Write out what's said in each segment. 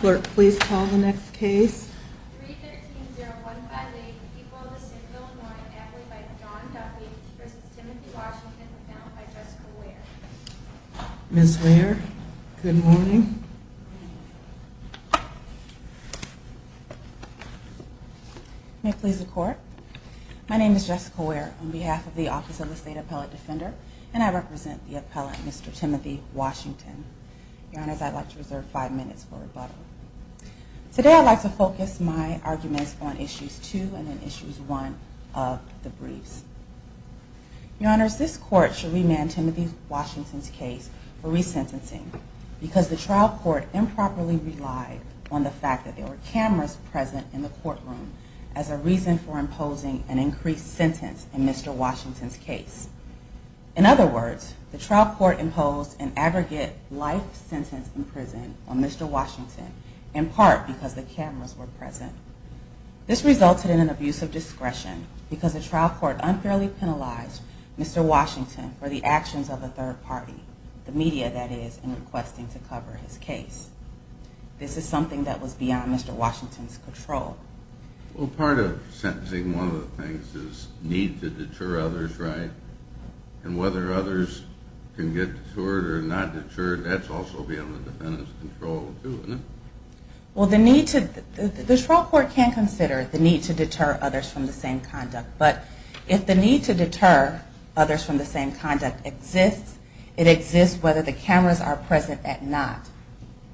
Clerk, please call the next case. Ms. Ware. Good morning. May it please the court. My name is Jessica Ware on behalf of the Office of the State Appellate Defender, and I represent the appellate, Mr. Timothy Washington. Your honors, I'd like to reserve five minutes for rebuttal. Today I'd like to focus my arguments on issues two and then issues one of the briefs. Your honors, this court should remand Timothy Washington's case for resentencing because the trial court improperly relied on the fact that there were cameras present in the courtroom as a reason for imposing an increased sentence in Mr Washington's case. In other words, the trial court imposed an aggregate life sentence in prison on Mr Washington, in part because the cameras were present. This resulted in an abuse of discretion because the trial court unfairly penalized Mr Washington for the actions of the third party, the media that is, in requesting to cover his case. This is something that was beyond Mr Washington's control. Well, part of sentencing, one of the things is need to deter others, right? And whether others can get deterred or not deterred, that's also beyond the defendant's control too, isn't it? Well, the need to, the trial court can consider the need to deter others from the same conduct, but if the need to deter others from the same conduct exists, it exists whether the cameras are present at not,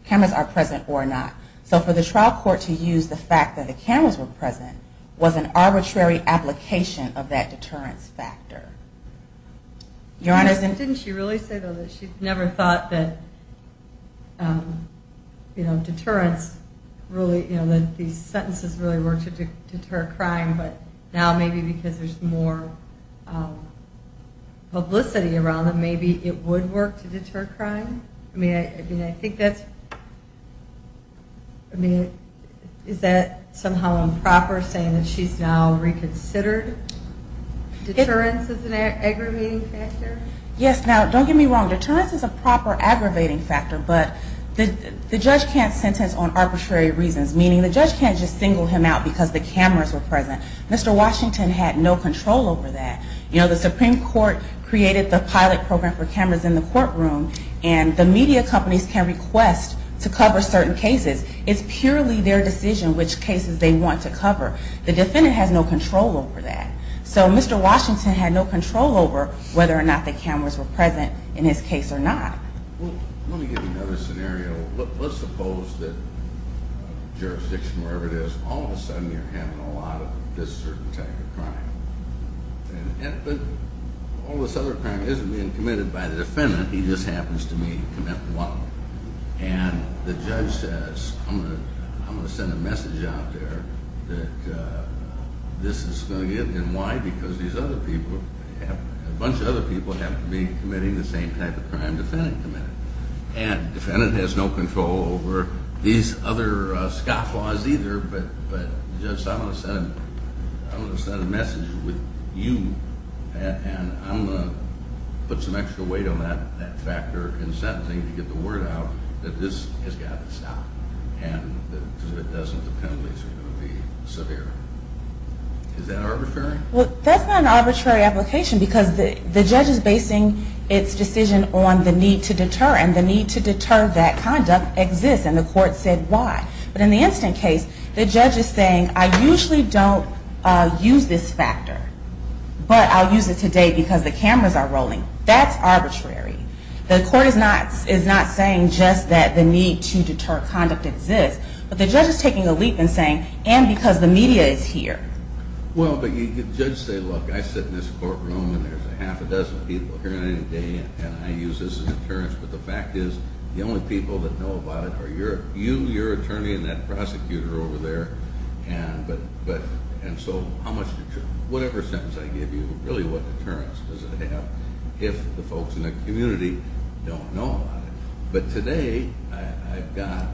cameras are present or not. So for the trial court to use the fact that the cameras were present was an arbitrary application of that Didn't she really say though that she never thought that, um, you know, deterrence really, you know, that these sentences really worked to deter crime, but now maybe because there's more, um, publicity around them, maybe it would work to deter crime. I mean, I mean, I think that's, I mean, is that somehow improper saying that she's now reconsidered? Deterrence is an aggravating factor? Yes. Now don't get me wrong. Deterrence is a proper aggravating factor, but the judge can't sentence on arbitrary reasons, meaning the judge can't just single him out because the cameras were present. Mr. Washington had no control over that. You know, the Supreme Court created the pilot program for cameras in the courtroom and the media companies can request to cover certain cases. It's purely their decision which cases they want to cover. The defendant has no control over that. So Mr. Washington had no control over whether or not the cameras were present in his case or not. Well, let me give you another scenario. Let's suppose that jurisdiction, wherever it is, all of a sudden you're handling a lot of this certain type of crime. And all this other crime isn't being committed by the defendant. He just happens to be committing one. And the judge says, I'm gonna, I'm gonna send a message out there that, uh, this is going to get stopped. And why? Because these other people have, a bunch of other people have to be committing the same type of crime the defendant committed. And defendant has no control over these other scofflaws either. But, but just I'm gonna send, I'm gonna send a message with you and I'm gonna put some extra weight on that, that factor in sentencing to get the word out that this has got to stop. And if it doesn't, the penalties are going to be severe. Is that arbitrary? Well, that's not an arbitrary application because the, the judge is basing its decision on the need to deter and the need to deter that conduct exists. And the court said, why? But in the instant case, the judge is saying, I usually don't use this factor, but I'll use it today because the cameras are rolling. That's arbitrary. The court is not, is not saying just that the need to deter conduct exists, but the judge is taking a leap and saying, and because the media is here. Well, but you could judge say, look, I sit in this courtroom and there's a half a dozen people here any day and I use this as a deterrence, but the fact is the only people that know about it are your, you, your attorney and that prosecutor over there. And, but, but, and so how much, whatever sentence I give you, really what deterrence does it have if the folks in the community don't know about it? But today I've got,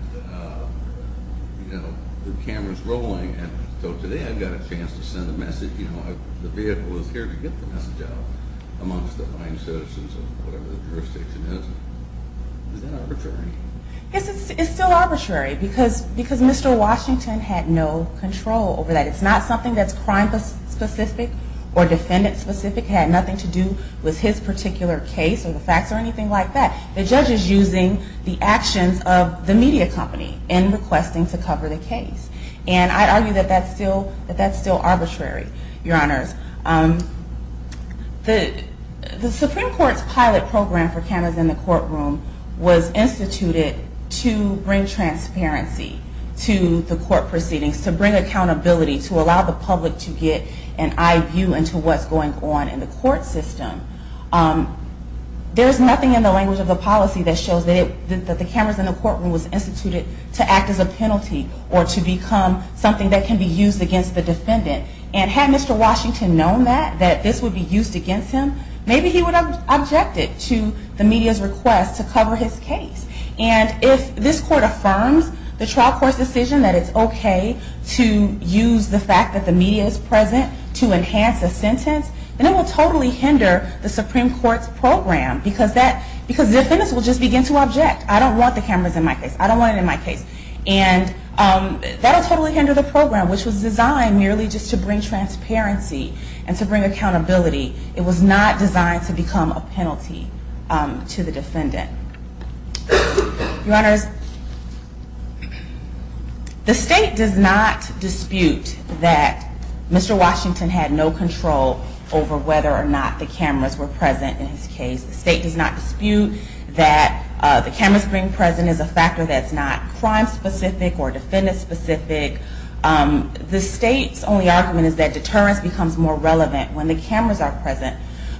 you know, the camera's rolling. And so today I've got a chance to send a message, you know, the vehicle is here to get the message out amongst the fine citizens of whatever the jurisdiction is. Is that arbitrary? Yes, it's, it's still arbitrary because, because Mr. Washington had no control over that. It's not something that's crime specific or defendant specific, had nothing to do with his particular case or the facts or anything like that. The judge is using the actions of the media company in requesting to cover the case. And I argue that that's still, that that's still arbitrary, your honors. The, the Supreme Court's pilot program for cameras in the courtroom was instituted to bring transparency to the court proceedings, to bring accountability, to allow the public to get an eye view into what's going on in the court system. There's nothing in the language of the policy that shows that it, that the cameras in the courtroom was instituted to act as a penalty or to become something that can be used against the defendant. And had Mr. Washington known that, that this would be used against him, maybe he would have objected to the media's request to cover his case. And if this court affirms the trial court's decision that it's okay to use the fact that the media is present to enhance a sentence, then it will totally hinder the Supreme Court's program, because that, because defendants will just begin to object. I don't want the cameras in my case. I don't want it in my case. And that'll totally hinder the program, which was designed merely just to bring transparency and to bring accountability. It was not designed to become a penalty to the defendant. Your Honors, the state does not dispute that Mr. Washington had no control over whether or not the cameras were present in his case. The state does not dispute that the cameras being present is a factor that's not crime-specific or defendant-specific. The state's only argument is that deterrence becomes more relevant when the cameras are present.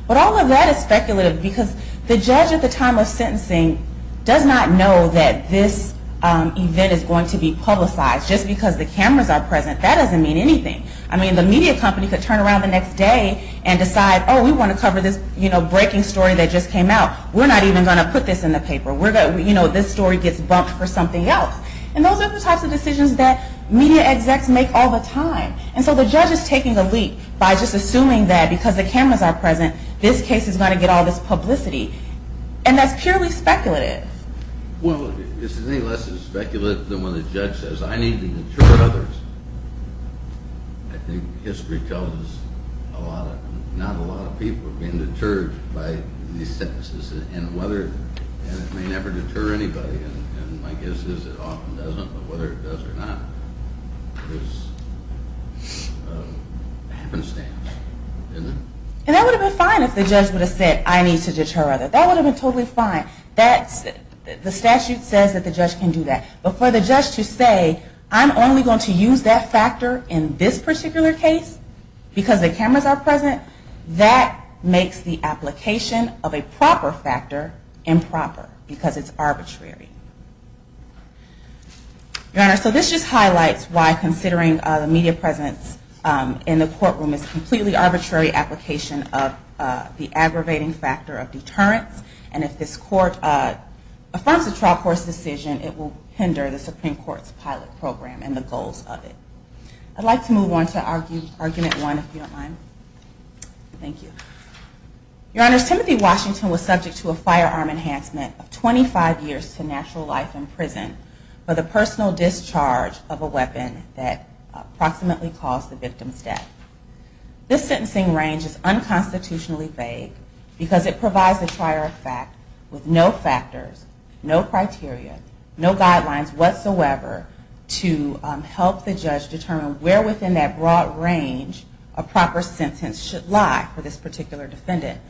But all of that is speculative, because the judge at the time of sentencing does not know that this event is going to be publicized. Just because the cameras are present, that doesn't mean anything. I mean, the media company could turn around the next day and decide, oh, we want to cover this, you know, breaking story that just came out. We're not even going to put this in the paper. We're going to, you know, this story gets bumped for something else. And those are the types of decisions that media execs make all the time. And so the judge is taking the leap by just assuming that because the cameras are present, this case is going to get all this publicity. And that's purely speculative. Well, it's any less speculative than when the judge says, I need to deter others. I think history tells us a lot of, not a lot of people are being deterred by these sentences. And whether, and it may never deter anybody. And my guess is it often doesn't, but whether it does or not, it's a happenstance, isn't it? And that would have been fine if the judge would have said, I need to deter others. That would have been totally fine. That's, the statute says that the judge can do that. But for the judge to say, I'm only going to use that factor in this particular case because the cameras are present, that makes the application of a proper factor improper because it's arbitrary. Your Honor, so this just highlights why considering the media presence in the courtroom is a completely arbitrary application of the aggravating factor of deterrence. And if this court affirms a trial court's decision, it will hinder the Supreme Court's pilot program and the goals of it. I'd like to move on to argument one, if you don't mind. Thank you. Your Honor, Timothy Washington was subject to a firearm enhancement of 25 years to natural life in prison for the personal discharge of a weapon that approximately caused the victim's death. This sentencing range is unconstitutionally vague because it provides a prior fact with no factors, no criteria, no guidelines whatsoever to help the judge determine where within that broad range a proper sentence should lie for this particular defendant.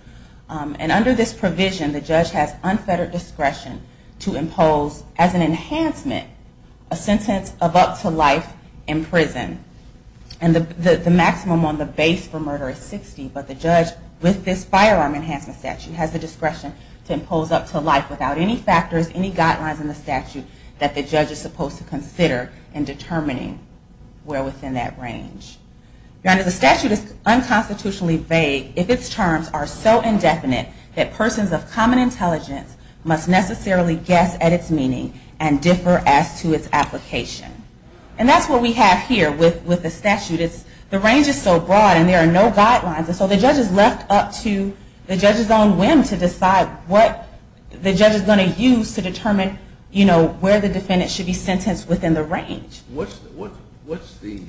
And under this provision, the judge has unfettered discretion to impose as an enhancement a sentence of up to life in prison. And the maximum on the base for murder is 60, but the judge with this firearm enhancement statute has the discretion to impose up to life without any factors, any guidelines in the statute that the judge is supposed to consider in this case. And that's what we have here with the statute. The range is so broad and there are no guidelines, and so the judge is left up to the judge's own whim to decide what the judge is going to use to determine, you know, where the defendant should be sentenced within the range. What's the,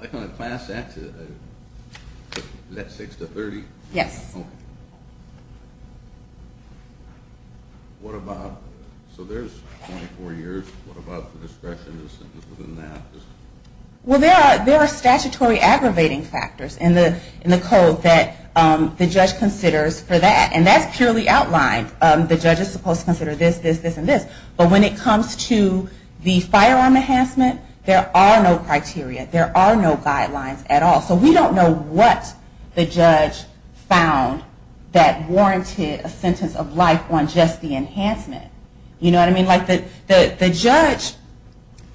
like on a class act, is that 6 to 30? Yes. Okay. What about, so there's 24 years, what about the discretion within that? Well, there are statutory aggravating factors in the code that the judge considers for that, and that's purely outlined. The judge is supposed to consider this, this, this, and this. But when it comes to the firearm enhancement, there are no criteria. There are no guidelines at all. So we don't know what the judge found that warranted a sentence of life on just the enhancement. You know what I mean? Like the judge,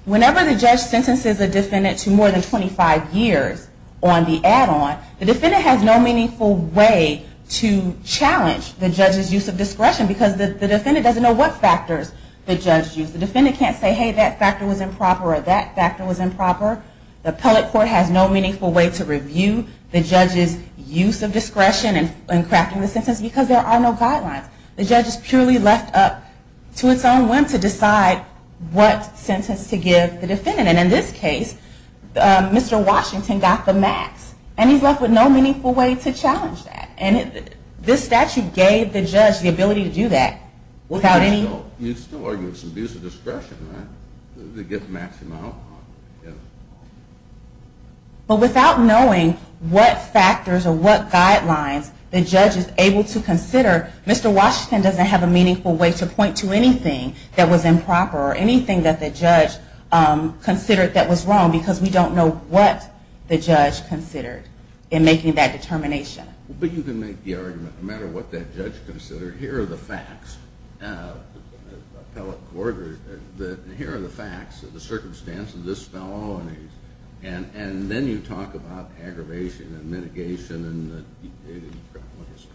whenever the judge sentences a defendant to more than 25 years on the add-on, the defendant has no meaningful way to challenge the judge's use of discretion, because the defendant doesn't know what factors the judge used. The defendant can't say, hey, that factor was improper, or that factor was improper. The appellate court has no meaningful way to review the judge's use of discretion in crafting the sentence, because there are no guidelines. The judge is purely left up to its own whim to decide what sentence to give the defendant. And in this case, Mr. Washington got the max, and he's left with no meaningful way to challenge that. And this statute gave the judge the ability to do that without any... You'd still argue it's an abuse of discretion, right? To get the maximum outcome. But without knowing what factors or what guidelines the judge is able to consider, Mr. Washington doesn't have a meaningful way to point to anything that was improper or anything that the judge considered that was wrong, because we don't know what the judge considered in making that determination. But you can make the argument, no matter what that judge considered, here are the facts, appellate court, here are the facts, the circumstances of this fellow, and then you talk about aggravation and mitigation and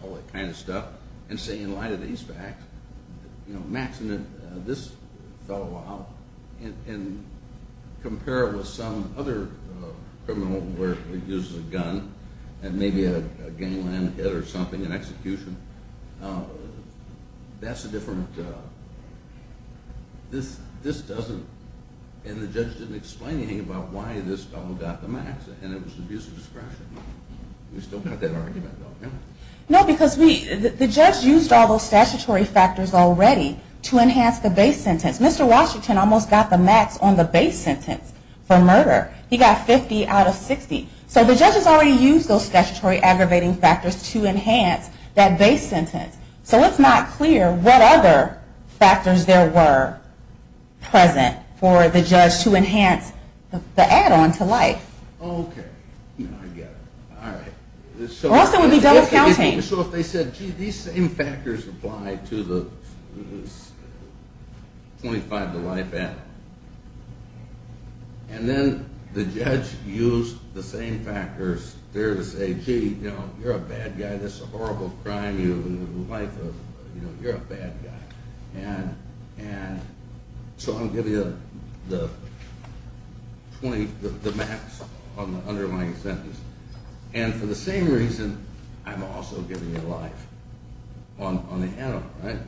all that kind of stuff, and say, in light of these facts, maxing this fellow out, and compare it with some other criminal where he uses a gun, and maybe a gangland hit or something, an execution. That's a different... This doesn't... And the judge didn't explain anything about why this fellow got the max, and it was abuse of discretion. We still got that argument, though, didn't we? No, because the judge used all those statutory factors already to enhance the base sentence. Mr. Washington almost got the max on the base sentence for murder. He got 50 out of 60. So the judge has already used those statutory aggravating factors to enhance that base sentence. So it's not clear what other factors there were present for the judge to enhance the add on to life. Okay. I get it. All right. Also, it would be jealous counting. So if they said, gee, these same factors apply to the 25 to life add on, and then the judge used the same factors there to say, gee, you're a bad guy, this is a horrible crime, you... You're a bad guy. And so I'll give you the max on the underlying sentence. And for the same reason, I'm also giving you life on the add on, right?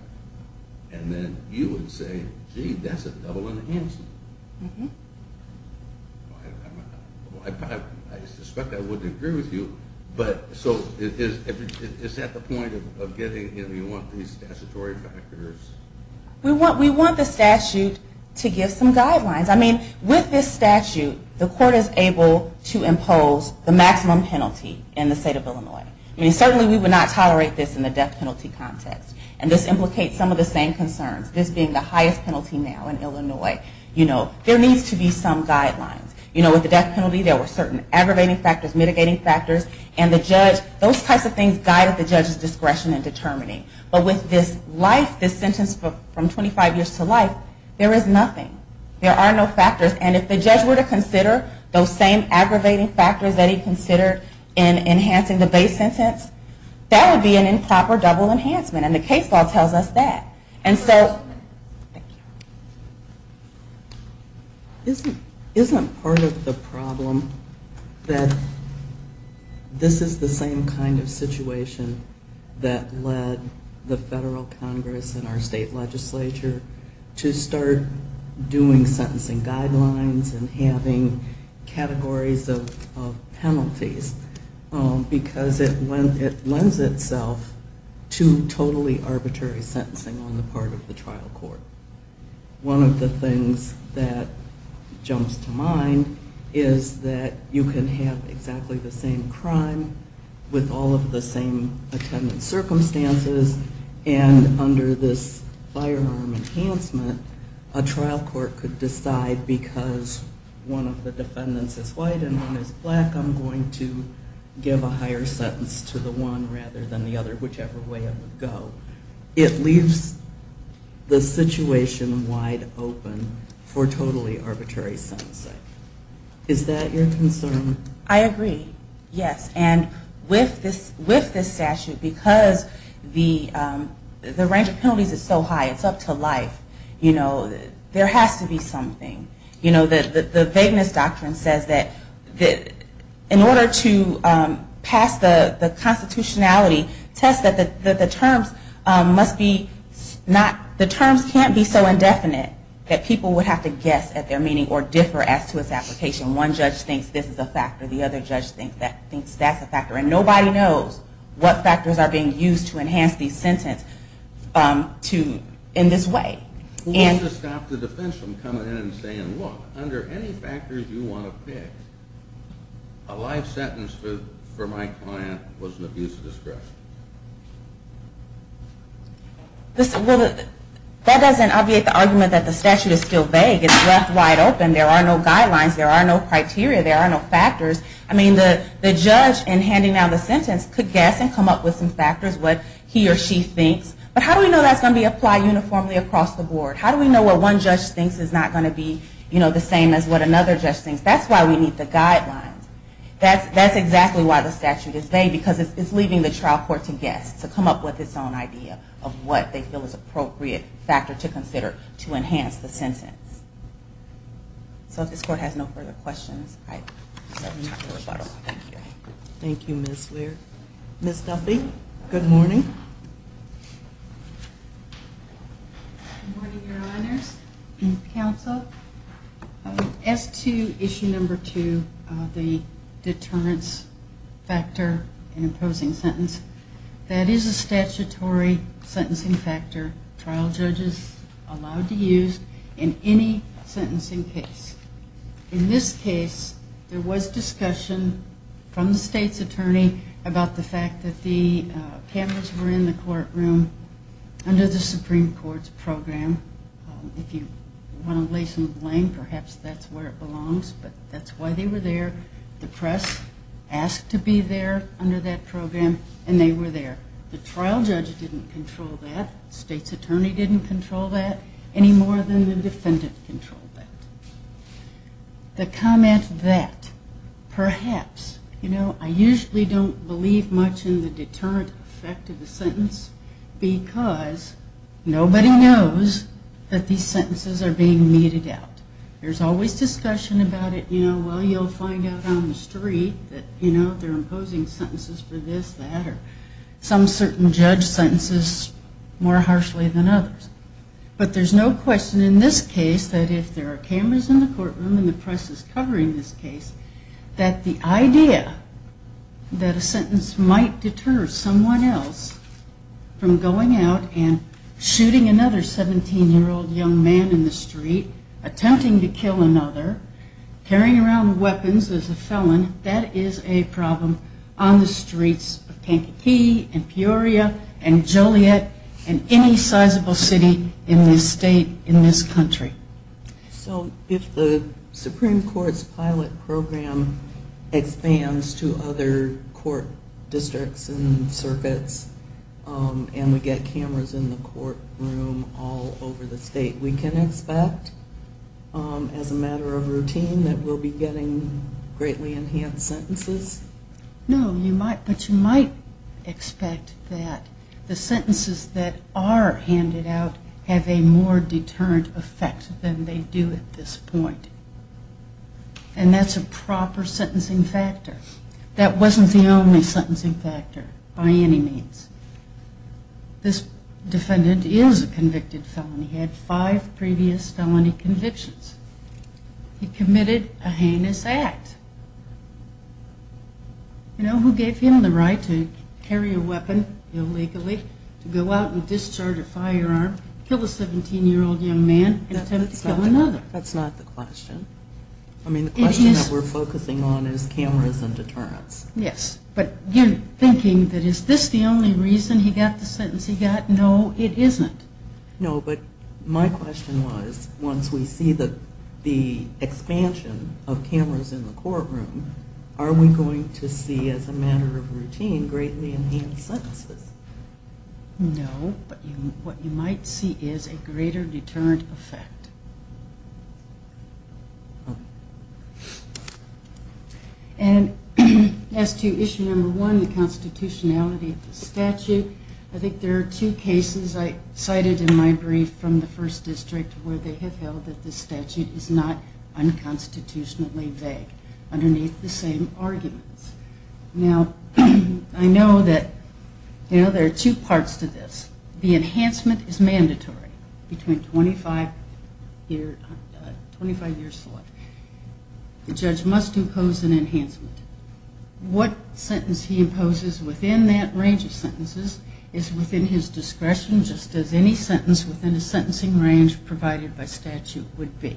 And then you would say, gee, that's a double enhancement. Mm-hmm. I suspect I wouldn't agree with you, but so is that the point of getting, you want these statutory factors? We want the statute to give some guidelines. I mean, with this statute, the court is able to impose the maximum penalty in the state of Illinois. I mean, certainly we would not tolerate this in the death penalty context. And this implicates some of the same concerns, this being the highest penalty now in Illinois. You know, there needs to be some guidelines. You know, with the death penalty, there were certain aggravating factors, mitigating factors, and the judge, those types of things guided the judge's discretion and determining. But with this life, this sentence from 25 years to life, there is nothing. There are no factors. And if the judge were to consider those same aggravating factors that he considered in enhancing the base sentence, that would be an improper double enhancement. And the case law tells us that. And so, isn't part of the problem that this is the same kind of situation that led the federal Congress and our state legislature to start doing sentencing guidelines and having categories of penalties? Because it lends itself to totally arbitrary sentencing on the part of the trial court. One of the things that jumps to mind is that you can have exactly the same crime with all of the same attendant circumstances. And under this firearm enhancement, a trial court could decide because one of the defendants is white and one is black, I'm going to give a higher sentence to the one rather than the other, whichever way it would go. It leaves the situation wide open for totally arbitrary sentencing. Is that your concern? I agree. Yes. And with this statute, because the range of penalties is so high, it's up to life, you know, there has to be something. You know, in order to pass the constitutionality test, the terms can't be so indefinite that people would have to guess at their meaning or differ as to its application. One judge thinks this is a factor, the other judge thinks that's a factor. And nobody knows what factors are being used to enhance these sentences in this way. We'll just stop the defense from coming in and saying, look, under any circumstances, a life sentence for my client was an abuse of discretion. Well, that doesn't obviate the argument that the statute is still vague. It's left wide open. There are no guidelines. There are no criteria. There are no factors. I mean, the judge in handing down the sentence could guess and come up with some factors, what he or she thinks. But how do we know that's going to be applied uniformly across the board? How do we know what one judge thinks is not going to be, you know, the same as what another judge thinks? That's why we need the guidelines. That's exactly why the statute is vague, because it's leaving the trial court to guess, to come up with its own idea of what they feel is an appropriate factor to consider to enhance the sentence. So if this court has no further questions, I'd like to move to rebuttal. Thank you, Ms. Weir. Ms. Duffy, good morning. Good morning, Your Honors and counsel. As to issue number two, the deterrence factor in imposing sentence, that is a statutory sentencing factor trial judges are allowed to use in any sentencing case. In this case, there was discussion from the state's attorney about the fact that the cameras were in the courtroom under the Supreme Court's program. If you want to lay some blame, perhaps that's where it belongs, but that's why they were there. The press asked to be there under that program, and they were there. The trial judge didn't control that. State's attorney didn't control that any more than the defendant controlled that. The comment that perhaps, you know, I usually don't believe much in the deterrent effect of the sentence because nobody knows that these sentences are being meted out. There's always discussion about it, you know, well, you'll find out on the street that, you know, they're imposing sentences for this, that, or some certain judge sentences more harshly than others. But there's no question in this case that if there are cameras in the courtroom and the sentence might deter someone else from going out and shooting another 17-year-old young man in the street, attempting to kill another, carrying around weapons as a felon, that is a problem on the streets of Pankakee and Peoria and Joliet and any sizable city in this state, in this country. So if the Supreme Court's pilot program expands to other court districts and circuits and we get cameras in the courtroom all over the state, we can expect as a matter of routine that we'll be getting greatly enhanced sentences? No, but you might expect that the sentences that are handed out have a more deterrent effect than they do at this point. And that's a proper sentencing factor. That wasn't the only sentencing factor by any means. This defendant is a convicted felon. He had five previous felony convictions. He committed a heinous act. You know, who gave him the right to carry a weapon illegally, to go out and discharge a firearm, kill a 17-year-old young man, and attempt to kill another? That's not the question. I mean, the question that we're focusing on is cameras and deterrents. Yes, but you're thinking that is this the only reason he got the sentence he got? No, it isn't. No, but my question was, once we see the expansion of cameras in the courtroom, are we going to see, as a matter of routine, greatly enhanced sentences? No, but what you might see is a greater deterrent effect. And as to issue number one, the constitutionality of the statute, I think there are two cases I cited in my brief from the first district where they have held that the statute is not unconstitutionally vague underneath the same arguments. Now, I know that there are two parts to this. The enhancement is mandatory between 25 years. The judge must impose an enhancement. What sentence he imposes within that range of sentences is within his discretion, just as any sentence within a sentencing range provided by statute would be.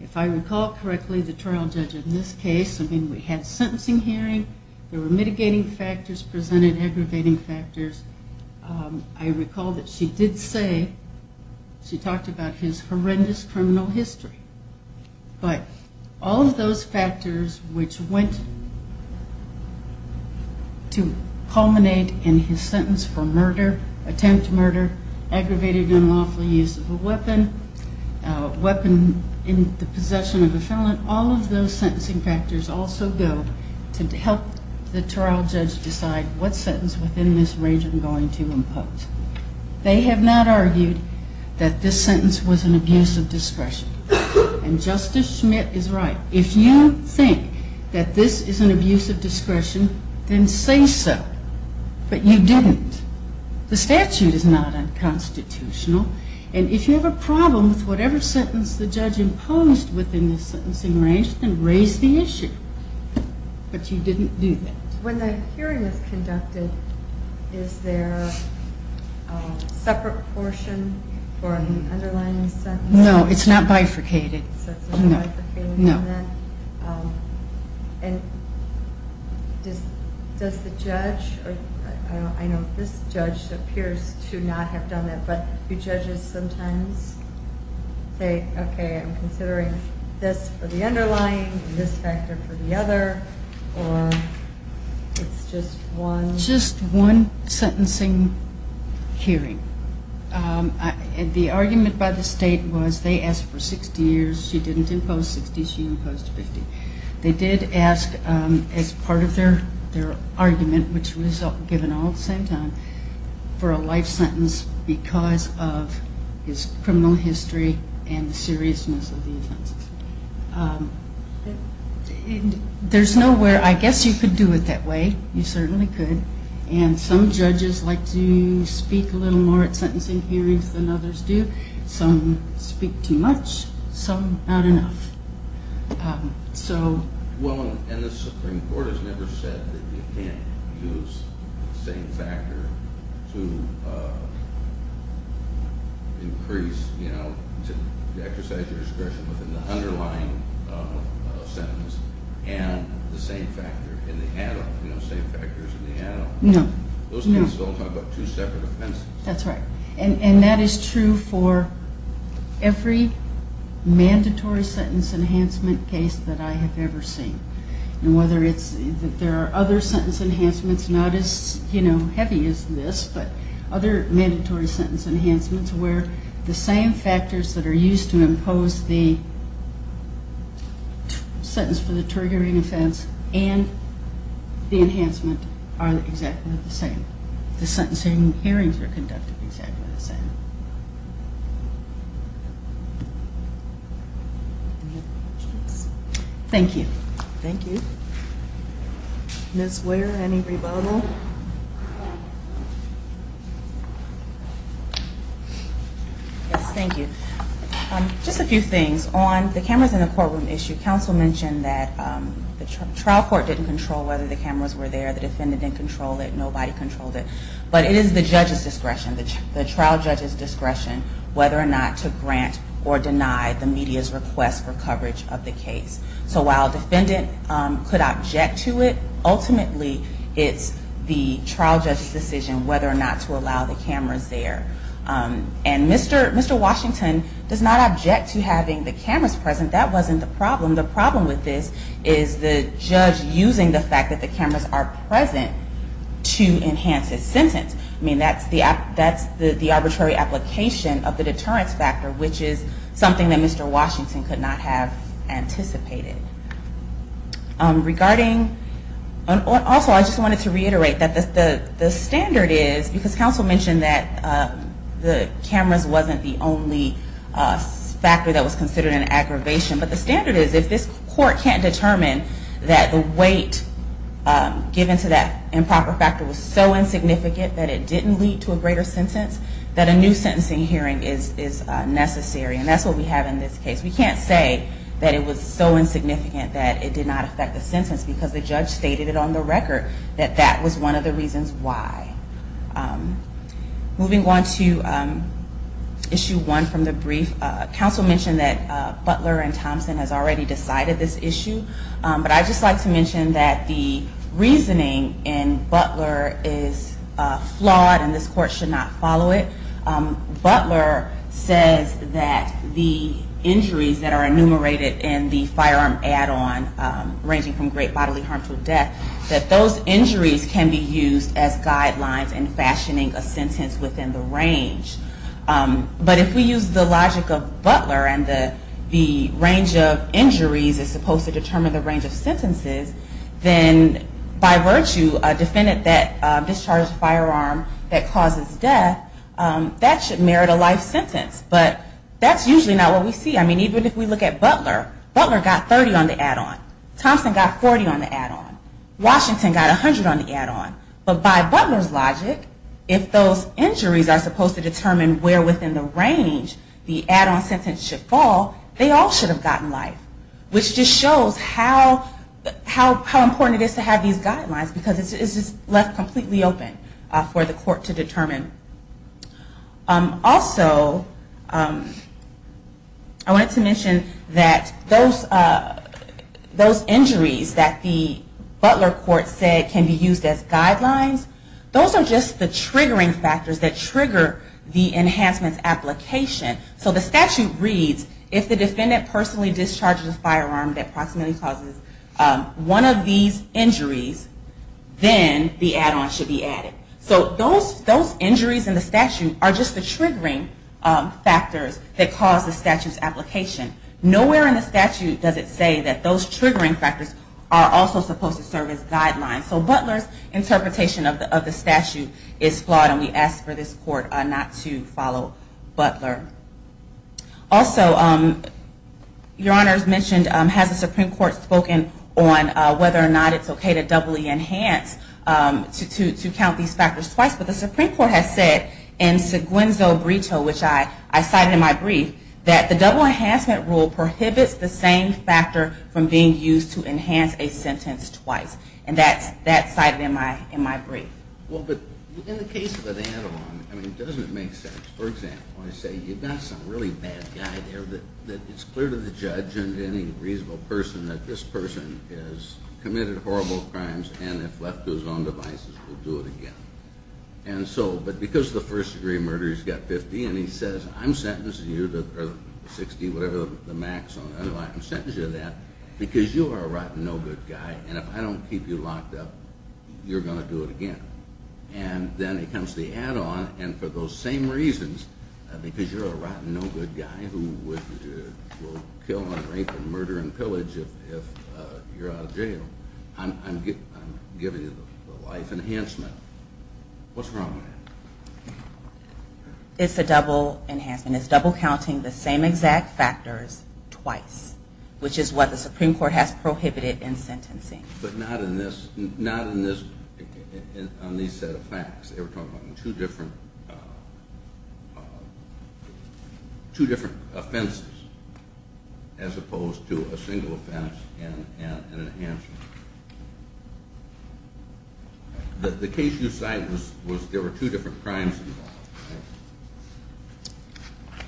If I recall correctly, the trial judge in this case, I mean, we had sentencing hearing. There were mitigating factors presented, aggravating factors. I recall that she did say, she talked about his horrendous criminal history. But all of those factors which went to culminate in his sentence for murder, attempt murder, aggravated unlawful use of a weapon, a weapon in the case, all of those sentencing factors also go to help the trial judge decide what sentence within this range I'm going to impose. They have not argued that this sentence was an abuse of discretion. And Justice Schmidt is right. If you think that this is an abuse of discretion, then say so. But you didn't. The statute is not unconstitutional. And if you have a problem with whatever sentence the judge imposed within the sentencing range, then raise the issue. But you didn't do that. When the hearing is conducted, is there a separate portion for an underlying sentence? No, it's not bifurcated. So it's not bifurcated in that? No. And does the judge, I know this judge appears to not have done that, but do judges sometimes say, okay, I'm considering this for the underlying and this factor for the other, or it's just one? Just one sentencing hearing. The argument by the state was they asked for 60 years, she didn't impose 60, she imposed 50. They did ask as part of their argument, which was given all at the same time, for a life sentence because of his criminal history and the seriousness of the offenses. There's nowhere, I guess you could do it that way, you certainly could. And some judges like to speak a little more at sentencing hearings than others do. Some speak too much, some not enough. So... Well, and the Supreme Court has never said that you can't use the same factor to increase, to exercise your discretion within the underlying sentence and the same factor in the add on, the same factors in the add on. No, no. Those cases all talk about two separate offenses. That's right. And that is true for every mandatory sentence enhancement case that I have ever seen. And whether it's... There are other sentence enhancements, not as heavy as this, but other mandatory sentence enhancements where the same factors that are used to impose the sentence for the triggering offense and the enhancement are exactly the same. The sentencing hearings are conducted exactly the same. Thank you. Thank you. Ms. Ware, any rebuttal? Yes, thank you. Just a few things. On the cameras in the courtroom issue, counsel mentioned that the trial court didn't control whether the cameras were there, the defendant didn't control it, nobody controlled it. But it is the judge's discretion, the trial judge's discretion, whether or not to grant or deny the media's request for coverage of the case. So while a defendant could object to it, ultimately, it's the trial judge's decision whether or not to allow the cameras there. And Mr. Washington does not object to having the cameras present, that wasn't the problem. The problem with this is the judge using the fact that the cameras are present to enhance his sentence. That's the arbitrary application of the deterrence factor, which is something that Mr. Washington could not have anticipated. Regarding... Also, I just wanted to reiterate that the standard is, because counsel mentioned that the cameras wasn't the only factor that was considered an aggravation, but the standard is, if this court can't determine that the weight given to that improper factor was so insignificant that it didn't lead to a greater sentence, that a new sentencing hearing is necessary. And that's what we have in this case. We can't say that it was so insignificant that it did not affect the sentence because the judge stated it on the record that that was one of the reasons why. Moving on to issue one from the brief, counsel mentioned that Butler and Thompson has already decided this issue, but I'd just like to mention that the reasoning in Butler is flawed and this court should not follow it. Butler says that the injuries that are enumerated in the firearm add on, ranging from great bodily harm to death, that those injuries can be used as guidelines in fashioning a sentence within the range. But if we use the logic of Butler and the range of injuries is supposed to determine the range of sentences, then by virtue a defendant that discharges a firearm that causes death, that should merit a life sentence. But that's usually not what we see. I mean, even if we look at Butler, Butler got 30 on the add on. Thompson got 40 on the add on. Washington got 100 on the add on. But by Butler's logic, if those injuries are supposed to determine where within the range the add on sentence should be, then that's a forgotten life. Which just shows how important it is to have these guidelines, because it's just left completely open for the court to determine. Also, I wanted to mention that those injuries that the Butler court said can be used as guidelines, those are just the triggering factors that trigger the enhancement's application. So the statute reads, if the defendant personally discharges a firearm that approximately causes one of these injuries, then the add on should be added. So those injuries in the statute are just the triggering factors that cause the statute's application. Nowhere in the statute does it say that those triggering factors are also supposed to serve as guidelines. So Butler's interpretation of the statute is flawed, and we ask for this court not to follow Butler. Also, Your Honor has mentioned, has the Supreme Court spoken on whether or not it's okay to doubly enhance, to count these factors twice. But the Supreme Court has said in Seguenzo Brito, which I cited in my brief, that the double enhancement rule prohibits the same factor from being used to enhance a sentence twice. And that's cited in my brief. Well, but in the case of an add on, doesn't it make sense? For example, I say, you've got some really bad guy there that it's clear to the judge and any reasonable person that this person has committed horrible crimes, and if left to his own devices, will do it again. And so, but because the first degree murder, he's got 50, and he says, I'm sentencing you to 60, whatever the max, I'm sentencing you to that, because you are a rotten, no good guy, and if I don't keep you locked up, you're going to do it again. And then it comes to the add on, and for those same reasons, because you're a rotten, no good guy who will kill and rape and murder and pillage if you're out of jail, I'm giving you the life enhancement. What's wrong with that? It's a double enhancement. It's double counting the same exact factors twice, which is what the Supreme Court has prohibited in sentencing. But not in this, not in this, on these set of facts. They were talking about two different, two different offenses, as opposed to a single offense and an enhancement. The case you cite was, there were two different crimes involved.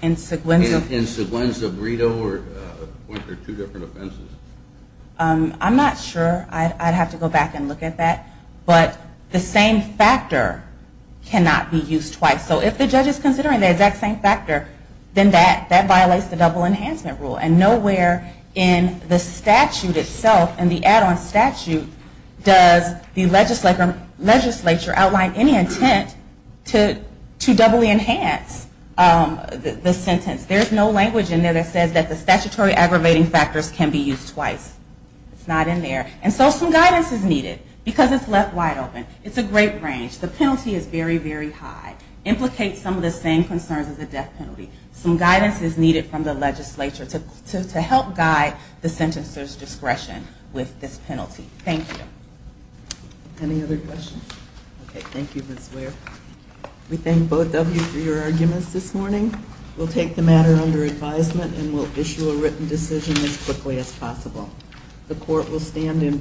In Seguenza... In Seguenza, Brito, weren't there two different offenses? I'm not sure. I'd have to go back and look at that. But the same factor cannot be used twice. So if the judge is considering the exact same factor, then that violates the double enhancement rule. And nowhere in the statute itself, in the add on statute, does the legislature outline any intent to doubly enhance the sentence. There's no language in there that says that the statutory aggravating factors can be used twice. It's not in there. And so some guidance is needed, because it's left wide open. It's a great range. The penalty is very, very high. Implicates some of the same concerns as the death penalty. Some guidance is needed from the legislature to help guide the sentencer's discretion with this penalty. Thank you. Any other questions? Okay, thank you, Ms. Ware. We thank both of you for your arguments this morning. We'll take the matter under advisement and we'll issue a written decision as quickly as possible. The court will stand in recess until 1.15.